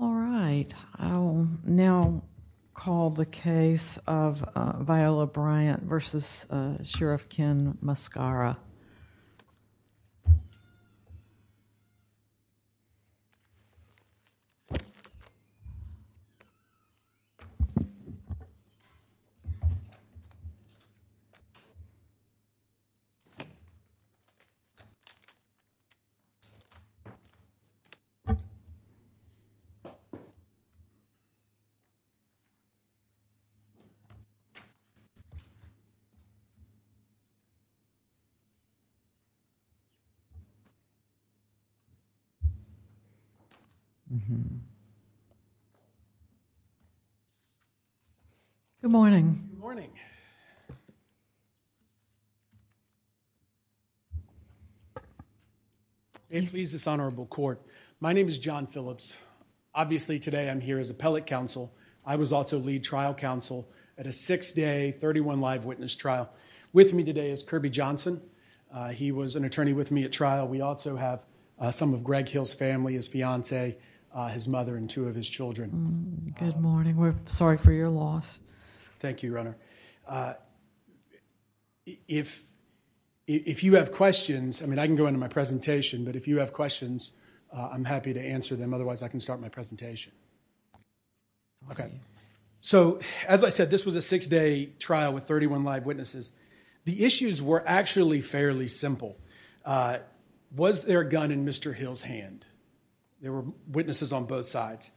All right, I'll now call the case of Viola Bryant v. Sheriff Ken Mascara. All right, I'll now call the case of Viola Bryant v. Sheriff Ken Mascara. Good morning. Good morning. May it please this honorable court. My name is John Phillips. Obviously today I'm here as appellate counsel. I was also lead trial counsel at a six day, 31 live witness trial. With me today is Kirby Johnson. He was an attorney with me at trial. We also have some of Greg Hill's family, his fiance, his mother, and two of his children. Good morning. We're sorry for your loss. Thank you, Your Honor. If you have questions, I mean I can go into my presentation, but if you have questions, I'm happy to answer them, otherwise I can start my presentation. Okay, so as I said, this was a six day trial with 31 live witnesses. The issues were actually fairly simple. Was there a gun in Mr. Hill's hand? There were witnesses on both sides.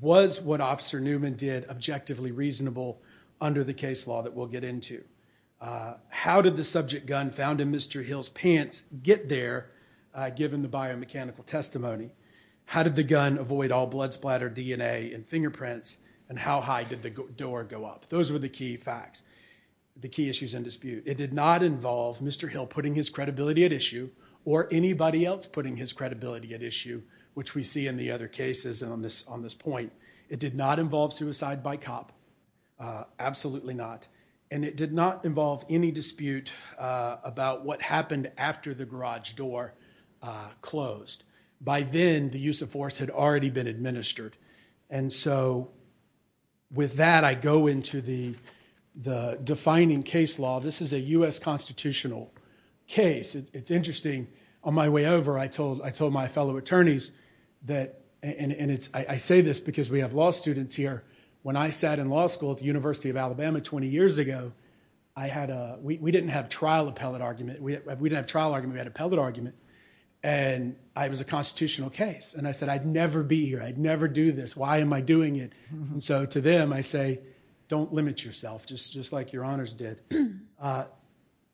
Was what Officer Newman did objectively reasonable under the case law that we'll get into? How did the subject gun found in Mr. Hill's pants get there given the biomechanical testimony? How did the gun avoid all blood splatter, DNA, and fingerprints? And how high did the door go up? Those were the key facts, the key issues in dispute. It did not involve Mr. Hill putting his credibility at issue or anybody else putting his credibility at issue, which we see in the other cases on this point. It did not involve suicide by cop, absolutely not. And it did not involve any dispute about what happened after the garage door closed. By then, the use of force had already been administered. And so with that, I go into the defining case law. This is a U.S. constitutional case. It's interesting. On my way over, I told my fellow attorneys that, and I say this because we have law students here. When I sat in law school at the University of Alabama 20 years ago, we didn't have trial appellate argument. We didn't have trial argument, we had appellate argument. And it was a constitutional case. And I said, I'd never be here, I'd never do this, why am I doing it? So to them, I say, don't limit yourself, just like your honors did.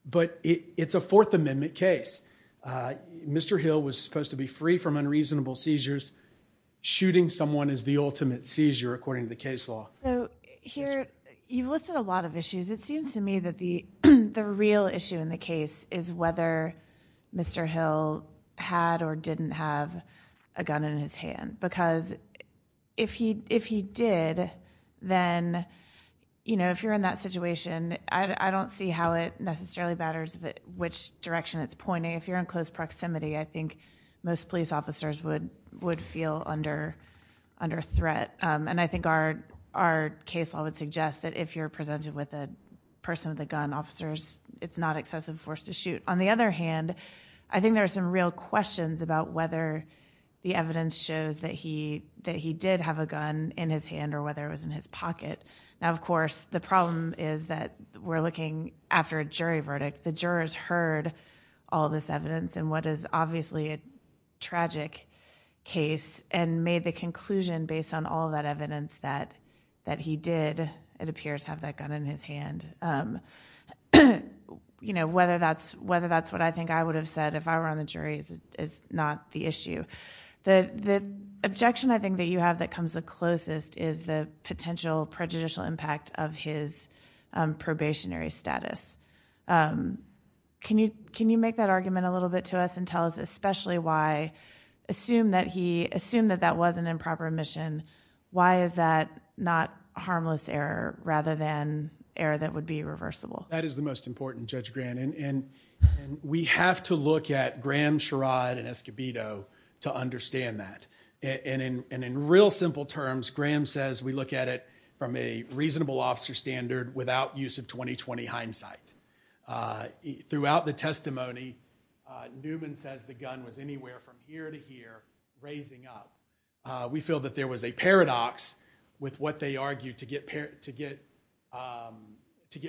But it's a Fourth Amendment case. Mr. Hill was supposed to be free from unreasonable seizures. Shooting someone is the ultimate seizure, according to the case law. So here, you've listed a lot of issues. It seems to me that the real issue in the case is whether Mr. Hill had or didn't have a gun in his hand. Because if he did, then, you know, if you're in that situation, I don't see how it necessarily matters which direction it's pointing. If you're in close proximity, I think most police officers would feel under threat. And I think our case law would suggest that if you're presented with a person with a gun, officers, it's not excessive force to shoot. On the other hand, I think there are some real questions about whether the evidence shows that he did have a gun in his hand or whether it was in his pocket. Now, of course, the problem is that we're looking after a jury verdict. The jurors heard all this evidence in what is obviously a tragic case and made the conclusion based on all that evidence that he did, it appears, have that gun in his hand. You know, whether that's what I think I would have said if I were on the jury is not the issue. The objection I think that you have that comes the closest is the potential prejudicial impact of his probationary status. Can you make that argument a little bit to us and tell us especially why, assume that that was an improper admission, why is that not harmless error rather than error that would be reversible? That is the most important, Judge Grant. We have to look at Graham, Sherrod, and Escobedo to understand that. In real simple terms, Graham says we look at it from a reasonable officer standard without use of 20-20 hindsight. Throughout the testimony, Newman says the gun was anywhere from here to here raising up. We feel that there was a paradox with what they argued to get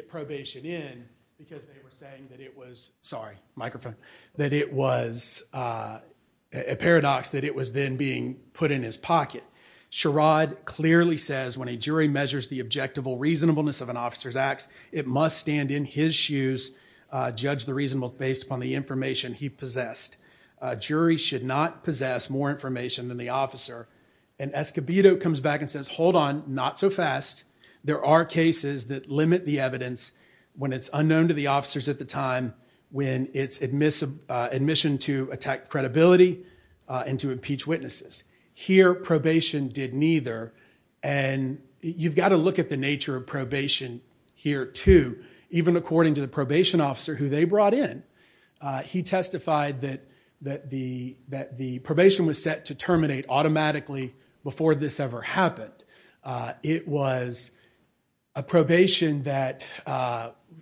probation in because they were saying that it was, sorry, microphone, that it was a paradox that it was then being put in his pocket. Sherrod clearly says when a jury measures the objectable reasonableness of an officer's testimony, then his shoes judge the reasonableness based upon the information he possessed. Jury should not possess more information than the officer. Escobedo comes back and says, hold on, not so fast. There are cases that limit the evidence when it's unknown to the officers at the time when it's admission to attack credibility and to impeach witnesses. Here probation did neither. You've got to look at the nature of probation here too, even according to the probation officer who they brought in. He testified that the probation was set to terminate automatically before this ever happened. It was a probation that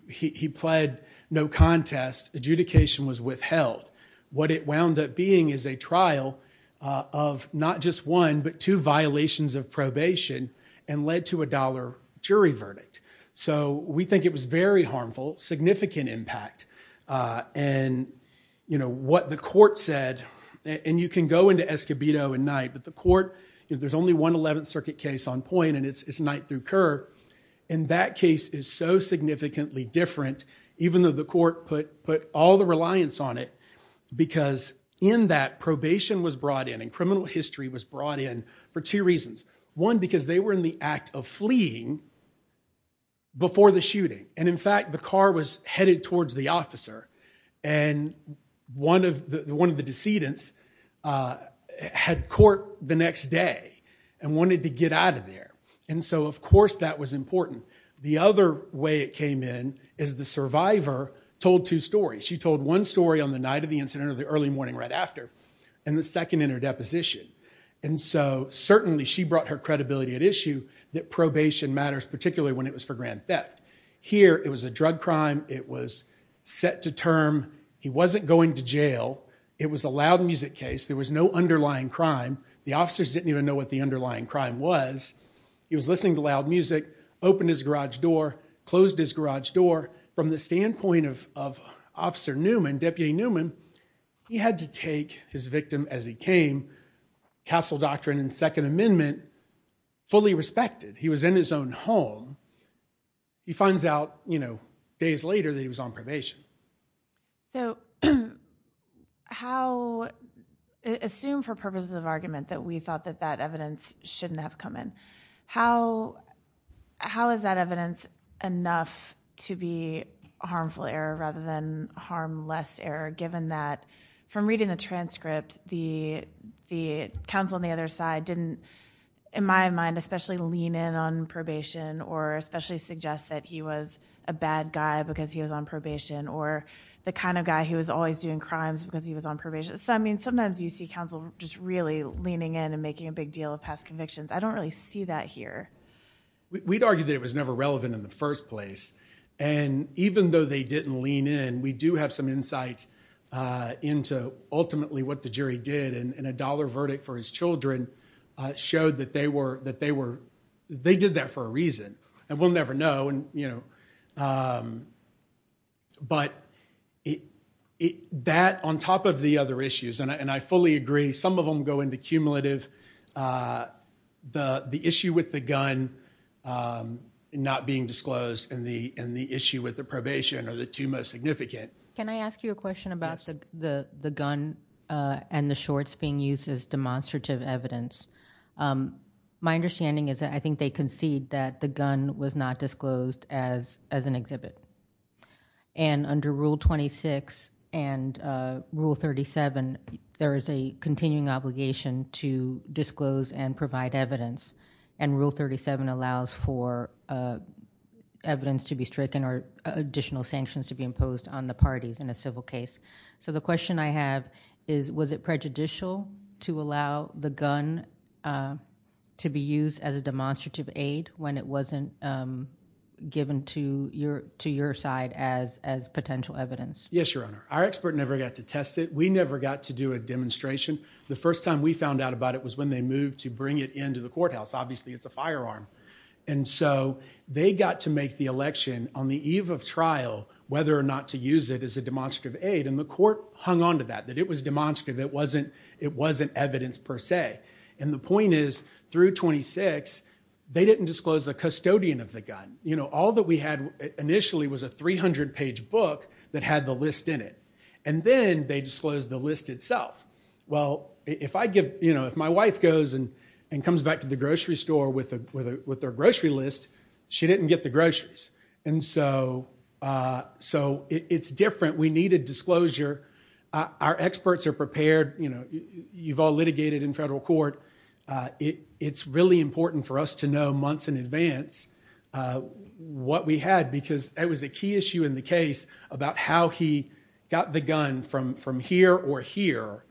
he pled no contest, adjudication was withheld. What it wound up being is a trial of not just one, but two violations of probation and led to a dollar jury verdict. We think it was very harmful, significant impact. What the court said, and you can go into Escobedo at night, but the court, there's only one 11th Circuit case on point and it's Knight through Kerr, and that case is so significantly different, even though the court put all the reliance on it, because in that, probation was brought in and criminal history was brought in for two reasons. One, because they were in the act of fleeing before the shooting, and in fact, the car was headed towards the officer and one of the decedents had court the next day and wanted to get out of there, and so of course that was important. The other way it came in is the survivor told two stories. She told one story on the night of the incident or the early morning right after, and the second in her deposition, and so certainly she brought her credibility at issue that probation matters, particularly when it was for grand theft. Here it was a drug crime. It was set to term. He wasn't going to jail. It was a loud music case. There was no underlying crime. The officers didn't even know what the underlying crime was. He was listening to loud music, opened his garage door, closed his garage door. From the standpoint of Officer Newman, Deputy Newman, he had to take his victim as he came, Castle Doctrine and Second Amendment, fully respected. He was in his own home. He finds out, you know, days later that he was on probation. So how... Assume for purposes of argument that we thought that that evidence shouldn't have come in. How is that evidence enough to be harmful error rather than harmless error, given that from reading the transcript, the counsel on the other side didn't, in my mind, especially lean in on probation or especially suggest that he was a bad guy because he was on probation or the kind of guy who was always doing crimes because he was on probation. So, I mean, sometimes you see counsel just really leaning in and making a big deal of past convictions. I don't really see that here. We'd argue that it was never relevant in the first place. And even though they didn't lean in, we do have some insight into ultimately what the jury did. And a dollar verdict for his children showed that they were, that they were, they did that for a reason. And we'll never know. And, you know, but that on top of the other issues, and I fully agree, some of them go into cumulative. The issue with the gun not being disclosed and the issue with the probation are the two most significant. Can I ask you a question about the gun and the shorts being used as demonstrative evidence? My understanding is that I think they concede that the gun was not disclosed as an exhibit. And under Rule 26 and Rule 37, there is a continuing obligation to disclose and provide evidence. And Rule 37 allows for evidence to be stricken or additional sanctions to be imposed on the parties in a civil case. So the question I have is, was it prejudicial to allow the gun to be used as a demonstrative aid when it wasn't given to your, to your side as, as potential evidence? Yes, Your Honor. Our expert never got to test it. We never got to do a demonstration. The first time we found out about it was when they moved to bring it into the courthouse. Obviously it's a firearm. And so they got to make the election on the eve of trial, whether or not to use it as a demonstrative aid. And the court hung onto that, that it was demonstrative. It wasn't, it wasn't evidence per se. And the point is through 26, they didn't disclose the custodian of the gun. You know, all that we had initially was a 300 page book that had the list in it. And then they disclosed the list itself. Well, if I give, you know, if my wife goes and, and comes back to the grocery store with a, with a, with their grocery list, she didn't get the groceries. And so, uh, so it's different. We needed disclosure. Our experts are prepared. You know, you've all litigated in federal court. Uh, it, it's really important for us to know months in advance, uh, what we had because that was a key issue in the case about how he got the gun from, from here or here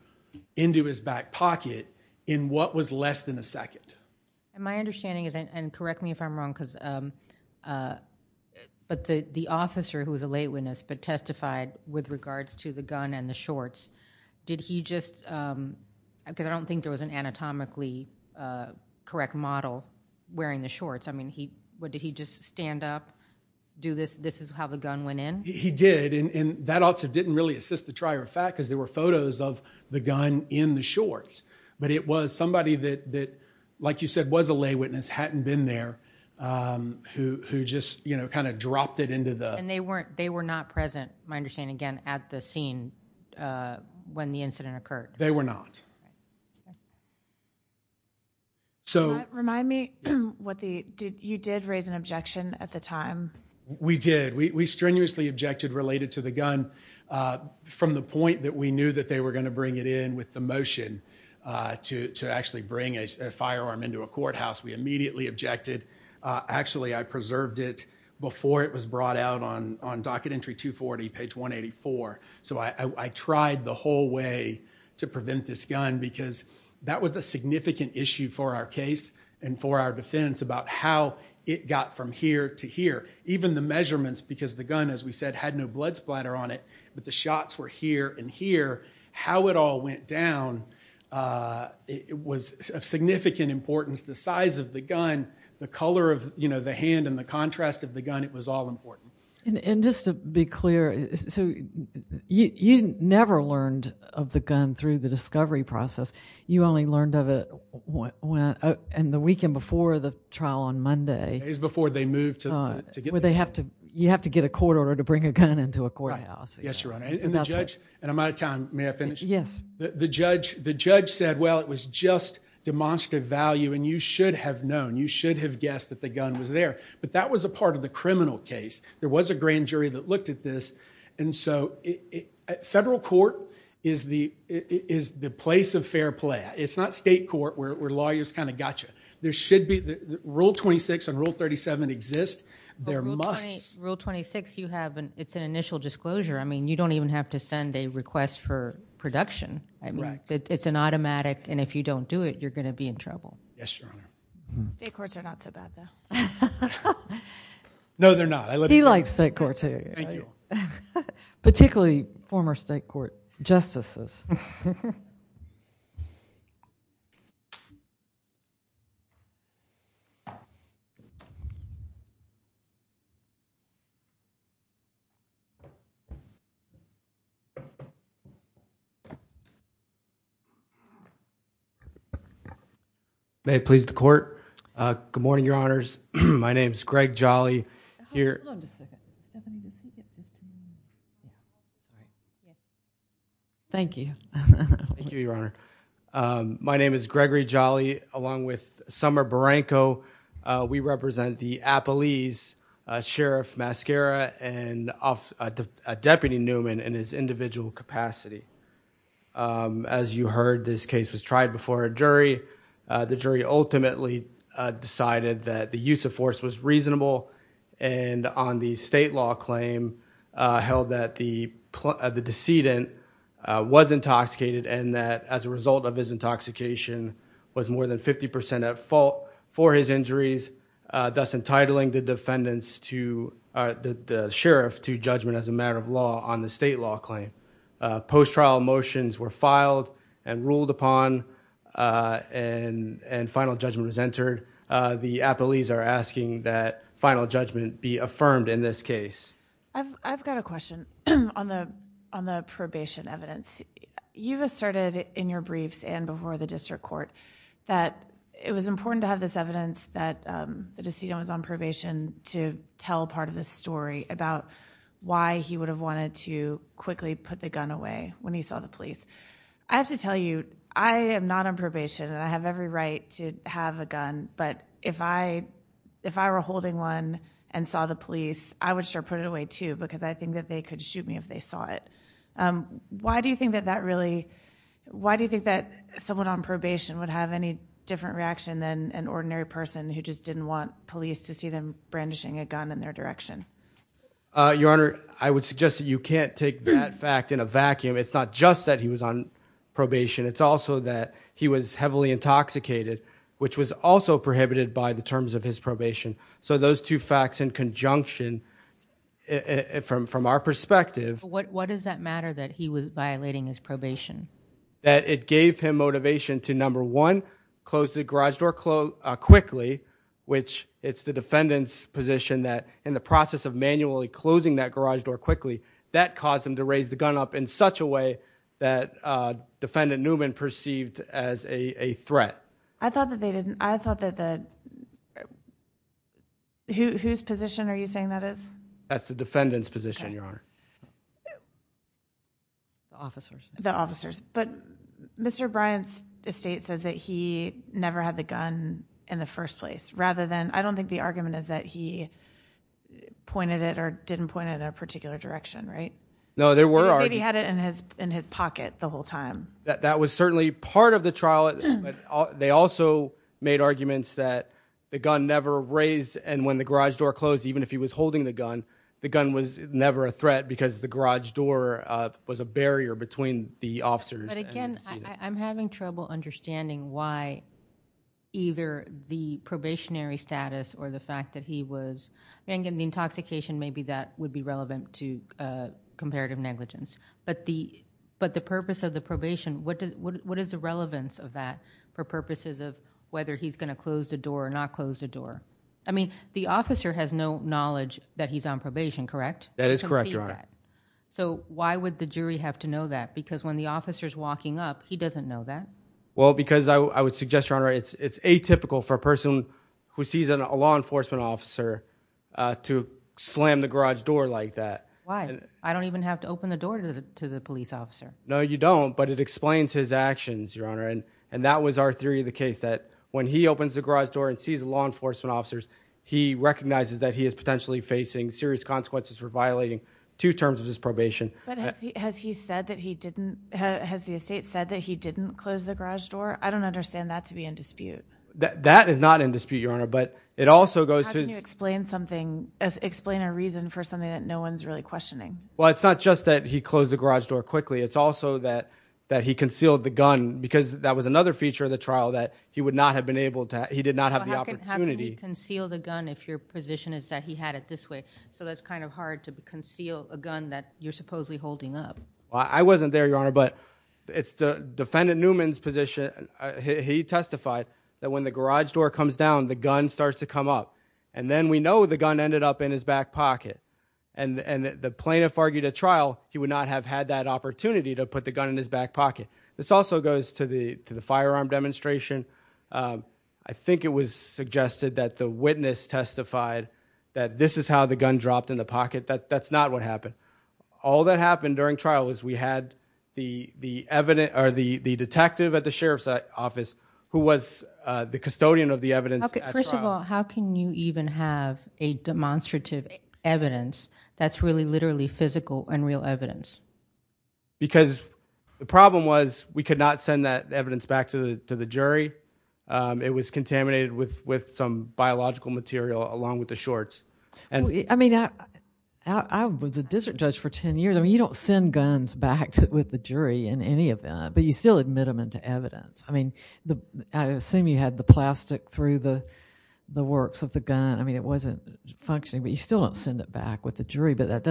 into his back pocket in what was less than a second. And my understanding is, and correct me if I'm wrong, because, um, uh, but the, the officer who was a lay witness, but testified with regards to the gun and the shorts, did he just, um, cause I don't think there was an anatomically, uh, correct model wearing the shorts. I mean, he, what did he just stand up, do this, this is how the gun went in. He did. And that also didn't really assist the trier of fact, cause there were photos of the gun in the shorts. But it was somebody that, that, like you said, was a lay witness, hadn't been there. Um, who, who just, you know, kind of dropped it into the, and they weren't, they were not present. My understanding again at the scene, uh, when the incident occurred, they were not. So remind me what the, did you did raise an objection at the time? We did. We, we strenuously objected related to the gun, uh, from the point that we knew that they were going to bring it in with the motion, uh, to, to actually bring a firearm into a courthouse. We immediately objected. Uh, actually I preserved it before it was brought out on, on docket entry two 40 page one 84. So I, I tried the whole way to prevent this gun because that was a significant issue for our case and for our defense about how it got from here to here. Even the measurements, because the gun, as we said, had no blood splatter on it, but the shots were here and here, how it all went down, uh, it was of significant importance. The size of the gun, the color of, you know, the hand and the contrast of the gun, it was all important. And, and just to be clear, so you, you never learned of the gun through the discovery process. You only learned of it when, uh, and the weekend before the trial on Monday is before they moved to, to get, where they have to, you have to get a court order to bring a gun into a courthouse. Yes, Your Honor. And the judge, and I'm out of time. May I finish? Yes. The judge, the judge said, well, it was just demonstrative value and you should have known, you should have guessed that the gun was there, but that was a part of the criminal case. There was a grand jury that looked at this. And so federal court is the, is the place of fair play. It's not state court where, where lawyers kind of gotcha. There should be rule 26 and rule 37 exist. There must. Rule 26, you have an, it's an initial disclosure. I mean, you don't even have to send a request for production. I mean, it's an automatic and if you don't do it, you're going to be in trouble. Yes, Your Honor. State courts are not so bad though. No, they're not. He likes state courts. Thank you. Particularly former state court justices. May it please the court. Good morning, Your Honors. My name is Greg Jolly here. Thank you. Thank you, Your Honor. My name is Gregory Jolly along with Summer Barranco. We represent the Appalese Sheriff Mascara and Deputy Newman in his individual capacity. As you heard, this case was tried before a jury. The jury ultimately decided that the use of force was reasonable and on the state law claim held that the decedent was intoxicated and that as a result of his intoxication was more than 50% at fault for his injuries, thus entitling the sheriff to judgment as a matter of law on the state law claim. Post-trial motions were filed and ruled upon and final judgment was entered. The Appalese are asking that final judgment be affirmed in this case. I've got a question on the probation evidence. You've asserted in your briefs and before the district court that it was important to have this evidence that the decedent was on probation to tell part of the story about why he would have wanted to quickly put the gun away when he saw the police. I have to tell you, I am not on probation and I have every right to have a gun, but if I were holding one and saw the police, I would sure put it away too because I think that they could shoot me if they saw it. Why do you think that someone on probation would have any different reaction than an ordinary person who just didn't want police to see them brandishing a gun in their direction? Your Honor, I would suggest that you can't take that fact in a vacuum. It's not just that he was on probation. It's also that he was heavily intoxicated, which was also prohibited by the terms of his probation. So those two facts in conjunction, from our perspective. What does that matter that he was violating his probation? That it gave him motivation to number one, close the garage door quickly, which it's the defendant's position that in the process of manually closing that garage door quickly, that caused him to raise the gun up in such a way that defendant Newman perceived as a threat. I thought that they didn't, I thought that the, whose position are you saying that is? That's the defendant's position, Your Honor. The officers. The officers. But Mr. Bryant's estate says that he never had the gun in the first place rather than, I don't think the argument is that he pointed it or didn't point it in a particular direction, right? No, there were arguments. Or maybe he had it in his pocket the whole time. That was certainly part of the trial. They also made arguments that the gun never raised and when the garage door closed, even if he was holding the gun, the gun was never a threat because the garage door was a barrier between the officers and the defendant. But again, I'm having trouble understanding why either the probationary status or the fact that he was, and again, the intoxication, maybe that would be relevant to comparative negligence, but the purpose of the probation, what is the relevance of that for purposes of whether he's going to close the door or not close the door? I mean, the officer has no knowledge that he's on probation, correct? That is correct, Your Honor. So why would the jury have to know that? Because when the officer's walking up, he doesn't know that. Well, because I would suggest, Your Honor, it's atypical for a person who sees a law enforcement officer to slam the garage door like that. Why? I don't even have to open the door to the police officer. No, you don't. But it explains his actions, Your Honor. And that was our theory of the case, that when he opens the garage door and sees a law enforcement officer, he recognizes that he is potentially facing serious consequences for violating two terms of his probation. Has he said that he didn't, has the estate said that he didn't close the garage door? I don't understand that to be in dispute. That is not in dispute, Your Honor, but it also goes to- How can you explain something, explain a reason for something that no one's really questioning? Well, it's not just that he closed the garage door quickly, it's also that he concealed the gun because that was another feature of the trial that he would not have been able to, he did not have the opportunity- How can you conceal the gun if your position is that he had it this way? So that's kind of hard to conceal a gun that you're supposedly holding up. I wasn't there, Your Honor, but it's the defendant Newman's position, he testified that when the garage door comes down, the gun starts to come up. And then we know the gun ended up in his back pocket. And the plaintiff argued at trial, he would not have had that opportunity to put the gun in his back pocket. This also goes to the firearm demonstration. I think it was suggested that the witness testified that this is how the gun dropped in the pocket. That's not what happened. All that happened during trial was we had the detective at the sheriff's office who was the custodian of the evidence at trial. Okay, first of all, how can you even have a demonstrative evidence that's really literally physical and real evidence? Because the problem was we could not send that evidence back to the jury. It was contaminated with some biological material along with the shorts. I mean, I was a district judge for 10 years. I mean, you don't send guns back with the jury in any event, but you still admit them into evidence. I mean, I assume you had the plastic through the works of the gun. I mean, it wasn't functioning, but you still don't send it back with the jury, but that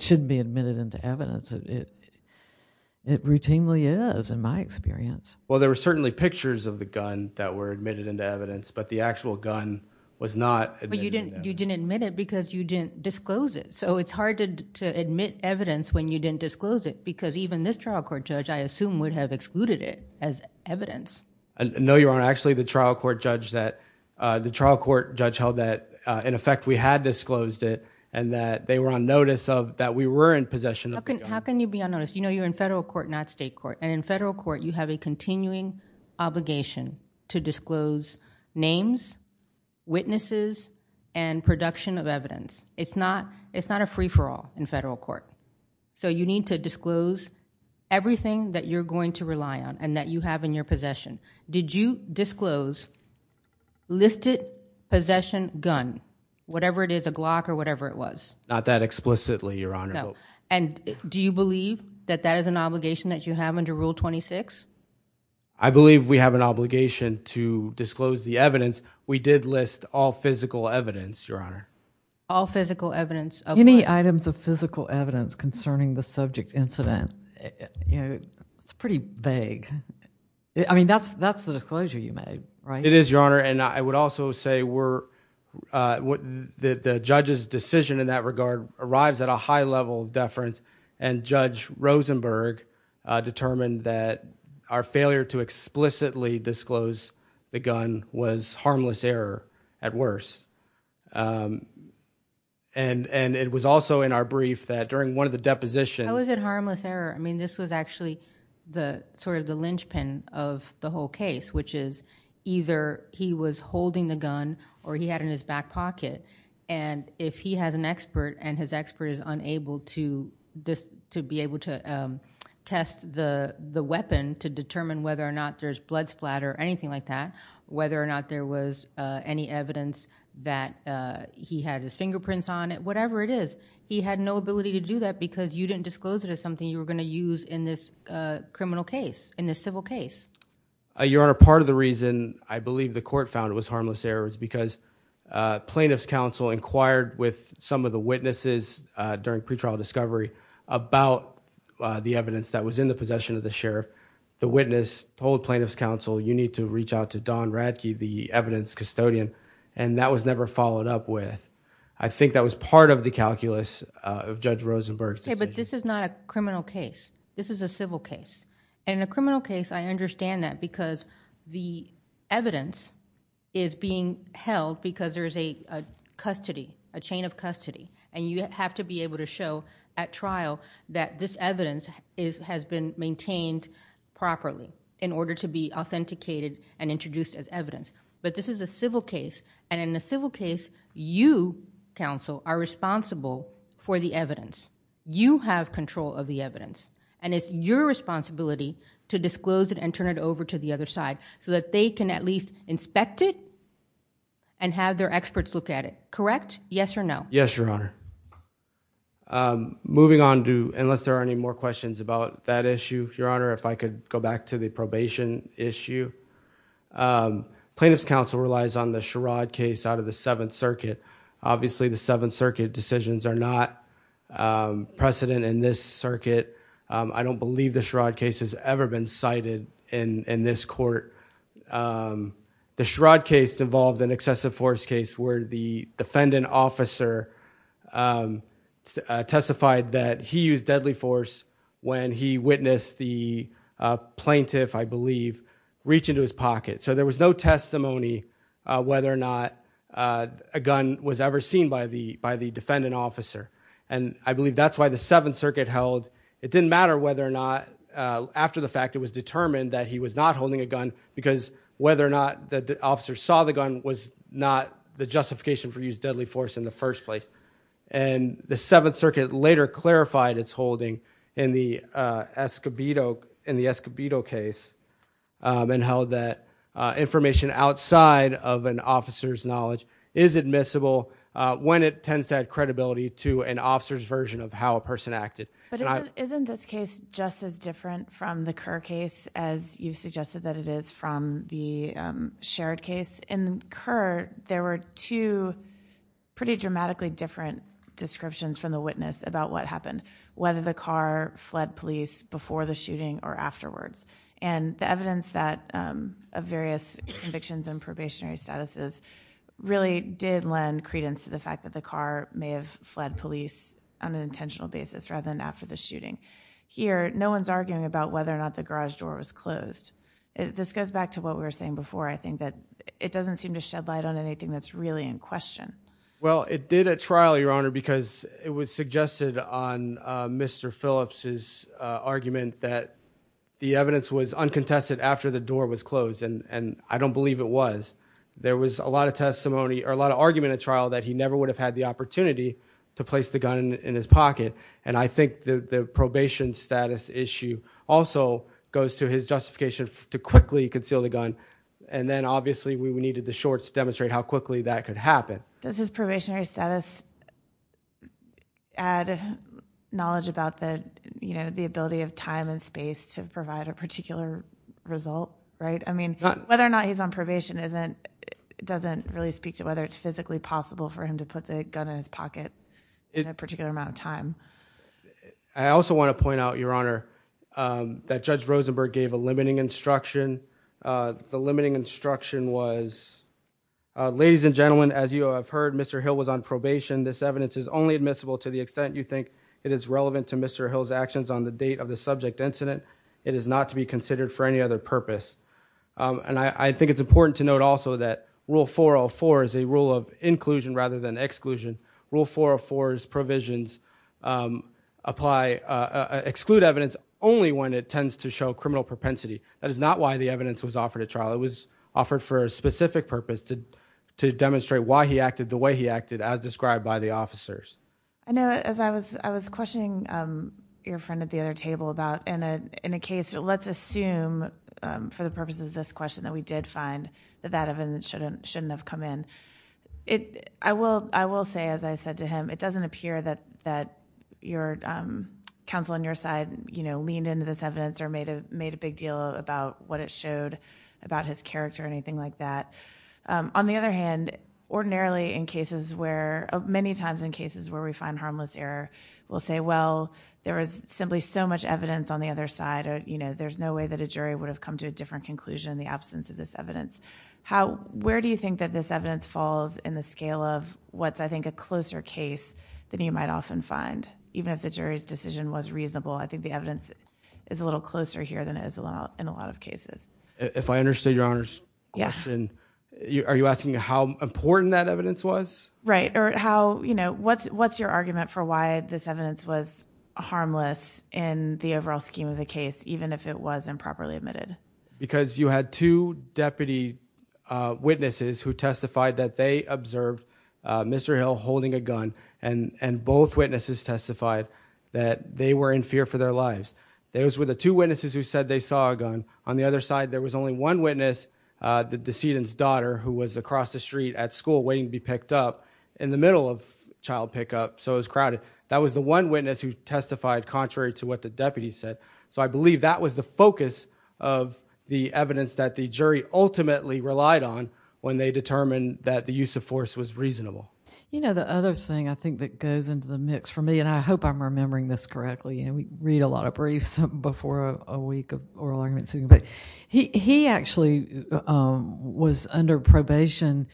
shouldn't be admitted into evidence. It routinely is, in my experience. Well, there were certainly pictures of the gun that were admitted into evidence, but the actual gun was not admitted into evidence. You didn't admit it because you didn't disclose it, so it's hard to admit evidence when you didn't disclose it because even this trial court judge, I assume, would have excluded it as evidence. No, Your Honor. Actually, the trial court judge held that, in effect, we had disclosed it and that they were on notice of that we were in possession of the gun. How can you be on notice? You know you're in federal court, not state court, and in federal court, you have a continuing obligation to disclose names, witnesses, and production of evidence. It's not a free-for-all in federal court, so you need to disclose everything that you're going to rely on and that you have in your possession. Did you disclose listed possession gun, whatever it is, a Glock or whatever it was? Not that explicitly, Your Honor. No. And do you believe that that is an obligation that you have under Rule 26? I believe we have an obligation to disclose the evidence. We did list all physical evidence, Your Honor. All physical evidence. Any items of physical evidence concerning the subject incident, you know, it's pretty vague. It is, Your Honor. I would also say the judge's decision in that regard arrives at a high level of deference and Judge Rosenberg determined that our failure to explicitly disclose the gun was harmless error at worst. It was also in our brief that during one of the depositions... How is it harmless error? This was actually sort of the linchpin of the whole case, which is either he was holding the gun or he had it in his back pocket. If he has an expert and his expert is unable to be able to test the weapon to determine whether or not there's blood splatter or anything like that, whether or not there was any evidence that he had his fingerprints on it, whatever it is, he had no ability to do that because you didn't disclose it as something you were going to use in this criminal case, in this civil case. Your Honor, part of the reason I believe the court found it was harmless error is because plaintiff's counsel inquired with some of the witnesses during pretrial discovery about the evidence that was in the possession of the sheriff. The witness told plaintiff's counsel, you need to reach out to Don Radke, the evidence custodian and that was never followed up with. I think that was part of the calculus of Judge Rosenberg's decision. This is not a criminal case. This is a civil case. In a criminal case, I understand that because the evidence is being held because there's a custody, a chain of custody and you have to be able to show at trial that this evidence has been maintained properly in order to be authenticated and introduced as evidence. This is a civil case and in a civil case, you, counsel, are responsible for the evidence. You have control of the evidence and it's your responsibility to disclose it and turn it over to the other side so that they can at least inspect it and have their experts look at it. Correct? Yes or no? Yes, Your Honor. Moving on to, unless there are any more questions about that issue, Your Honor, if I could go back to the probation issue. Plaintiff's counsel relies on the Sherrod case out of the Seventh Circuit. Obviously, the Seventh Circuit decisions are not precedent in this circuit. I don't believe the Sherrod case has ever been cited in this court. The Sherrod case involved an excessive force case where the defendant officer testified that he used deadly force when he witnessed the plaintiff, I believe, reach into his pocket. There was no testimony whether or not a gun was ever seen by the defendant officer. I believe that's why the Seventh Circuit held, it didn't matter whether or not, after the fact, it was determined that he was not holding a gun because whether or not the officer saw the gun was not the justification for used deadly force in the first place. The Seventh Circuit later clarified its holding in the Escobedo case and held that information outside of an officer's knowledge is admissible when it tends to add credibility to an officer's version of how a person acted. Isn't this case just as different from the Kerr case as you suggested that it is from the Sherrod case? In Kerr, there were two pretty dramatically different descriptions from the witness about what happened, whether the car fled police before the shooting or afterwards. The evidence of various convictions and probationary statuses really did lend credence to the fact that the car may have fled police on an intentional basis rather than after the shooting. Here, no one's arguing about whether or not the garage door was closed. This goes back to what we were saying before, I think, that it doesn't seem to shed light on anything that's really in question. Well, it did at trial, Your Honor, because it was suggested on Mr. Phillips' argument that the evidence was uncontested after the door was closed, and I don't believe it was. There was a lot of testimony or a lot of argument at trial that he never would have had the opportunity to place the gun in his pocket, and I think the probation status issue also goes to his justification to quickly conceal the gun, and then obviously we needed the shorts to demonstrate how quickly that could happen. Does his probationary status add knowledge about the ability of time and space to provide a particular result, right? I mean, whether or not he's on probation doesn't really speak to whether it's physically possible for him to put the gun in his pocket in a particular amount of time. I also want to point out, Your Honor, that Judge Rosenberg gave a limiting instruction. The limiting instruction was, ladies and gentlemen, as you have heard, Mr. Hill was on probation. This evidence is only admissible to the extent you think it is relevant to Mr. Hill's actions on the date of the subject incident. It is not to be considered for any other purpose. I think it's important to note also that Rule 404 is a rule of inclusion rather than exclusion. Rule 404's provisions exclude evidence only when it tends to show criminal propensity. That is not why the evidence was offered at trial. It was offered for a specific purpose, to demonstrate why he acted the way he acted, as described by the officers. I know, as I was questioning your friend at the other table about, in a case, let's assume, for the purposes of this question, that we did find that that evidence shouldn't have come in. I will say, as I said to him, it doesn't appear that your counsel on your side leaned into this evidence or made a big deal about what it showed about his character or anything like that. On the other hand, ordinarily in cases where, many times in cases where we find harmless error, we'll say, well, there was simply so much evidence on the other side, there's no way that a jury would have come to a different conclusion in the absence of this evidence. Where do you think that this evidence falls in the scale of what's, I think, a closer case than you might often find? Even if the jury's decision was reasonable, I think the evidence is a little closer here than it is in a lot of cases. If I understood your Honor's question, are you asking how important that evidence was? Right. Or how, you know, what's your argument for why this evidence was harmless in the overall scheme of the case, even if it was improperly admitted? Because you had two deputy witnesses who testified that they observed Mr. Hill holding a gun and both witnesses testified that they were in fear for their lives. Those were the two witnesses who said they saw a gun. On the other side, there was only one witness, the decedent's daughter, who was across the street at school waiting to be picked up in the middle of child pickup, so it was crowded. That was the one witness who testified contrary to what the deputy said. So I believe that was the focus of the evidence that the jury ultimately relied on when they determined that the use of force was reasonable. You know, the other thing, I think, that goes into the mix for me, and I hope I'm remembering this correctly, and we read a lot of briefs before a week of oral arguments, but he actually was under probation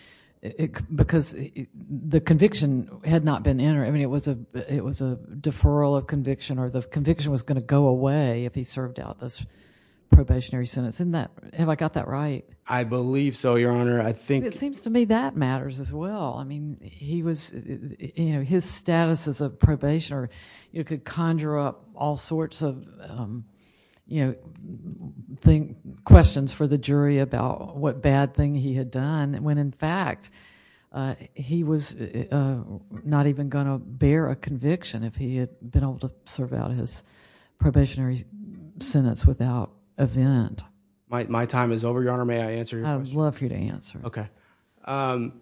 because the conviction had not been entered, I mean, it was a deferral of conviction or the conviction was going to go away if he served out this probationary sentence. Have I got that right? I believe so, Your Honor. It seems to me that matters as well. His status as a probationer could conjure up all sorts of questions for the jury about what bad thing he had done when, in fact, he was not even going to bear a conviction if he had been able to serve out his probationary sentence without event. My time is over, Your Honor. May I answer your question? I would love for you to answer. Okay. And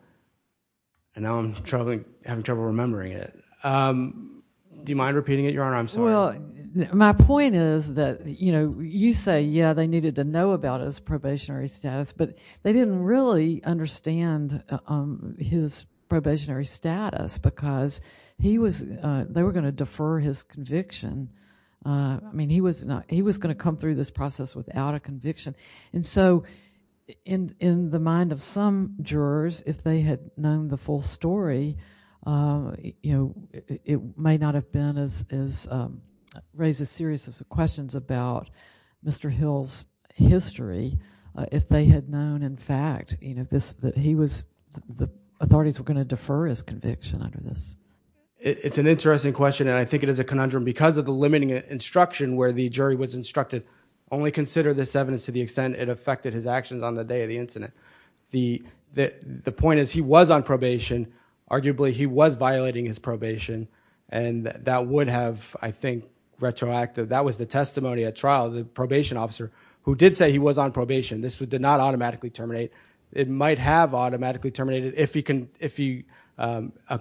now I'm having trouble remembering it. Do you mind repeating it, Your Honor? I'm sorry. Well, my point is that, you know, you say, yeah, they needed to know about his probationary status because he was, they were going to defer his conviction, I mean, he was going to come through this process without a conviction, and so in the mind of some jurors, if they had known the full story, you know, it may not have been as, raised a series of questions about Mr. Hill's history if they had known, in fact, you know, that he was, the authorities were going to defer his conviction under this. It's an interesting question, and I think it is a conundrum. Because of the limiting instruction where the jury was instructed, only consider this evidence to the extent it affected his actions on the day of the incident. The point is, he was on probation, arguably he was violating his probation, and that would have, I think, retroacted. That was the testimony at trial, the probation officer, who did say he was on probation. This did not automatically terminate. It might have automatically terminated if he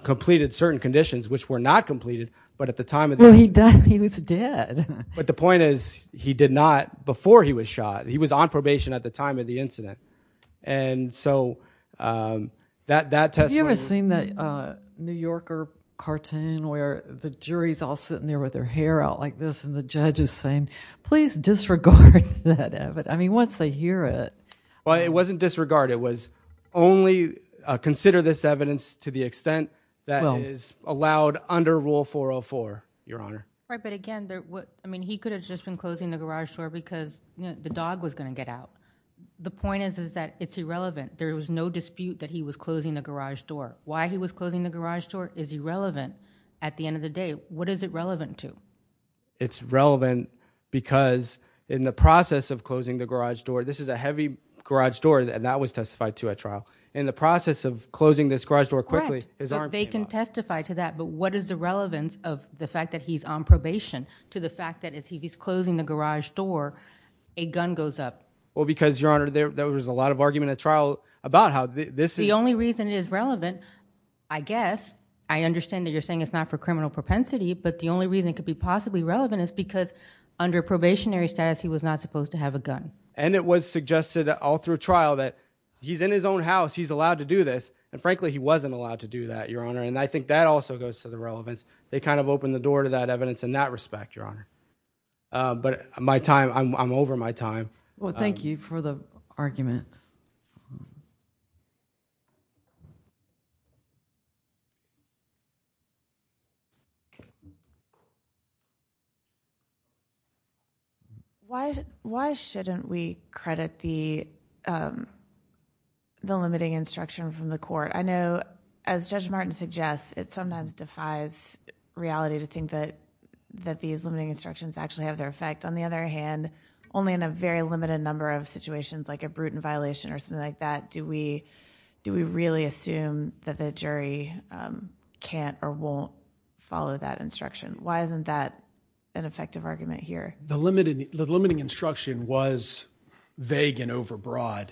completed certain conditions, which were not completed, but at the time of the incident, he was dead. But the point is, he did not before he was shot. He was on probation at the time of the incident. And so, that testimony, Have you ever seen that New Yorker cartoon where the jury's all sitting there with their hair out like this and the judge is saying, please disregard that evidence. I mean, once they hear it. Well, it wasn't disregard, it was only consider this evidence to the extent that is allowed under Rule 404, Your Honor. Right, but again, I mean, he could have just been closing the garage door because the dog was going to get out. The point is, is that it's irrelevant. There was no dispute that he was closing the garage door. Why he was closing the garage door is irrelevant. At the end of the day, what is it relevant to? It's relevant because in the process of closing the garage door, this is a heavy garage door and that was testified to at trial. In the process of closing this garage door quickly, his arm came off. They can testify to that, but what is the relevance of the fact that he's on probation to the fact that as he's closing the garage door, a gun goes up? Well, because, Your Honor, there was a lot of argument at trial about how this is. The only reason it is relevant, I guess, I understand that you're saying it's not for you, possibly relevant is because under probationary status, he was not supposed to have a gun. And it was suggested all through trial that he's in his own house. He's allowed to do this. And frankly, he wasn't allowed to do that, Your Honor. And I think that also goes to the relevance. They kind of opened the door to that evidence in that respect, Your Honor. But my time, I'm over my time. Well, thank you for the argument. Why shouldn't we credit the limiting instruction from the court? I know, as Judge Martin suggests, it sometimes defies reality to think that these limiting instructions actually have their effect. On the other hand, only in a very limited number of situations, like a brutal violation or something like that, do we really assume that the jury can't or won't follow that instruction? Why isn't that an effective argument here? The limiting instruction was vague and overbroad.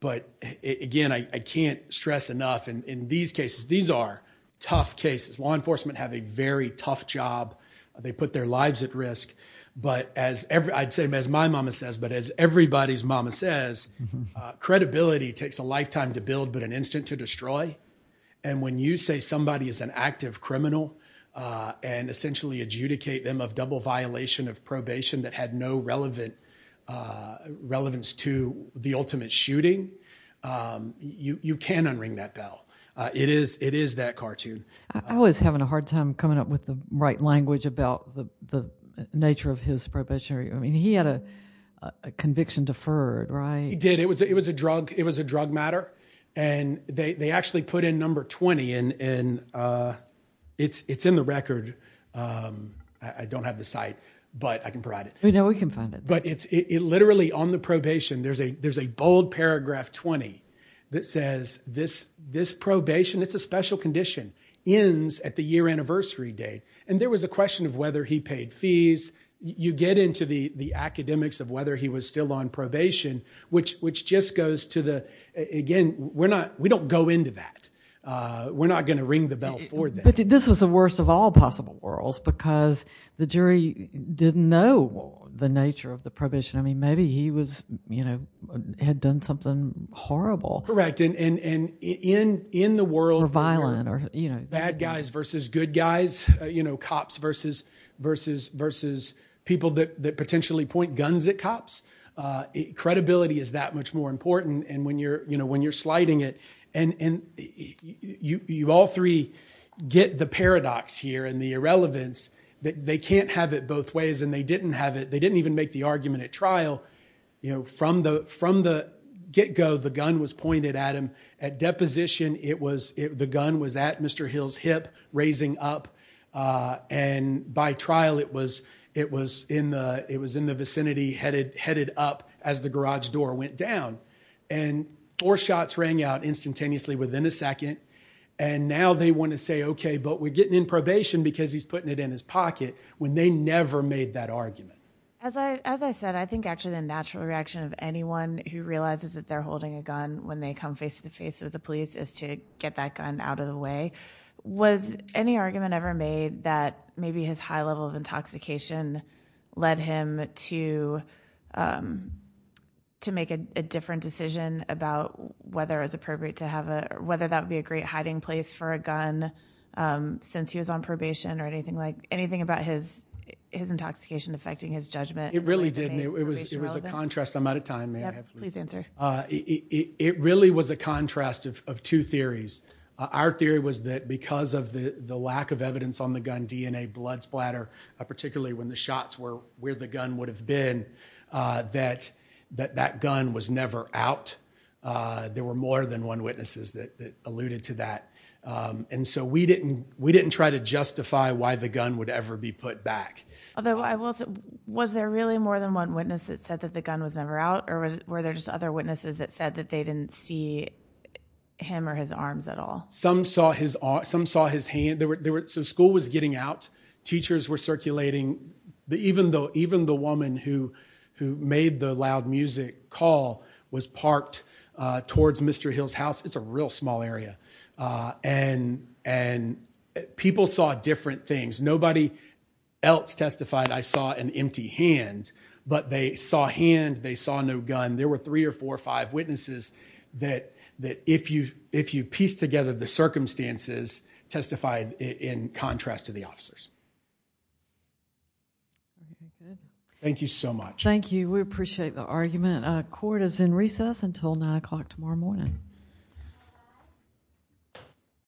But again, I can't stress enough, in these cases, these are tough cases. Law enforcement have a very tough job. They put their lives at risk. But as I'd say, as my mama says, but as everybody's mama says, credibility takes a lifetime to build but an instant to destroy. And when you say somebody is an active criminal and essentially adjudicate them of double violation of probation that had no relevance to the ultimate shooting, you can't unring that bell. It is that cartoon. I was having a hard time coming up with the right language about the nature of his probationary. I mean, he had a conviction deferred, right? He did. It was a drug matter and they actually put in number 20 and it's in the record. I don't have the site, but I can provide it. We know we can find it. But it literally, on the probation, there's a bold paragraph 20 that says, this probation, it's a special condition, ends at the year anniversary date. And there was a question of whether he paid fees. You get into the academics of whether he was still on probation, which just goes to the, again, we don't go into that. We're not going to ring the bell for that. This was the worst of all possible worlds because the jury didn't know the nature of the probation. I mean, maybe he had done something horrible. Correct. And in the world where bad guys versus good guys, cops versus people that potentially point guns at cops, credibility is that much more important. And when you're sliding it and you all three get the paradox here and the irrelevance that they can't have it both ways and they didn't have it, they didn't even make the argument at trial. You know, from the from the get go, the gun was pointed at him at deposition. It was the gun was at Mr. Hill's hip raising up and by trial it was it was in the it was in the vicinity, headed headed up as the garage door went down and four shots rang out instantaneously within a second. And now they want to say, OK, but we're getting in probation because he's putting it in his pocket when they never made that argument. As I as I said, I think actually the natural reaction of anyone who realizes that they're holding a gun when they come face to face with the police is to get that gun out of the way. Was any argument ever made that maybe his high level of intoxication led him to to make a different decision about whether it was appropriate to have a whether that would be a great hiding place for a gun since he was on probation or anything like anything about his his intoxication affecting his judgment? It really did. It was it was a contrast. I'm out of time. Please answer. It really was a contrast of two theories. Our theory was that because of the lack of evidence on the gun, DNA, blood splatter, particularly when the shots were where the gun would have been, that that that gun was never out. There were more than one witnesses that alluded to that. And so we didn't we didn't try to justify why the gun would ever be put back. Was there really more than one witness that said that the gun was never out or were there just other witnesses that said that they didn't see him or his arms at all? Some saw his some saw his hand. There were some school was getting out. Teachers were circulating the even though even the woman who who made the loud music call was parked towards Mr. Hill's house. It's a real small area and and people saw different things. Nobody else testified. I saw an empty hand, but they saw hand. They saw no gun. There were three or four or five witnesses that that if you if you piece together the circumstances testified in contrast to the officers. Thank you so much. Thank you. We appreciate the argument. Court is in recess until nine o'clock tomorrow morning.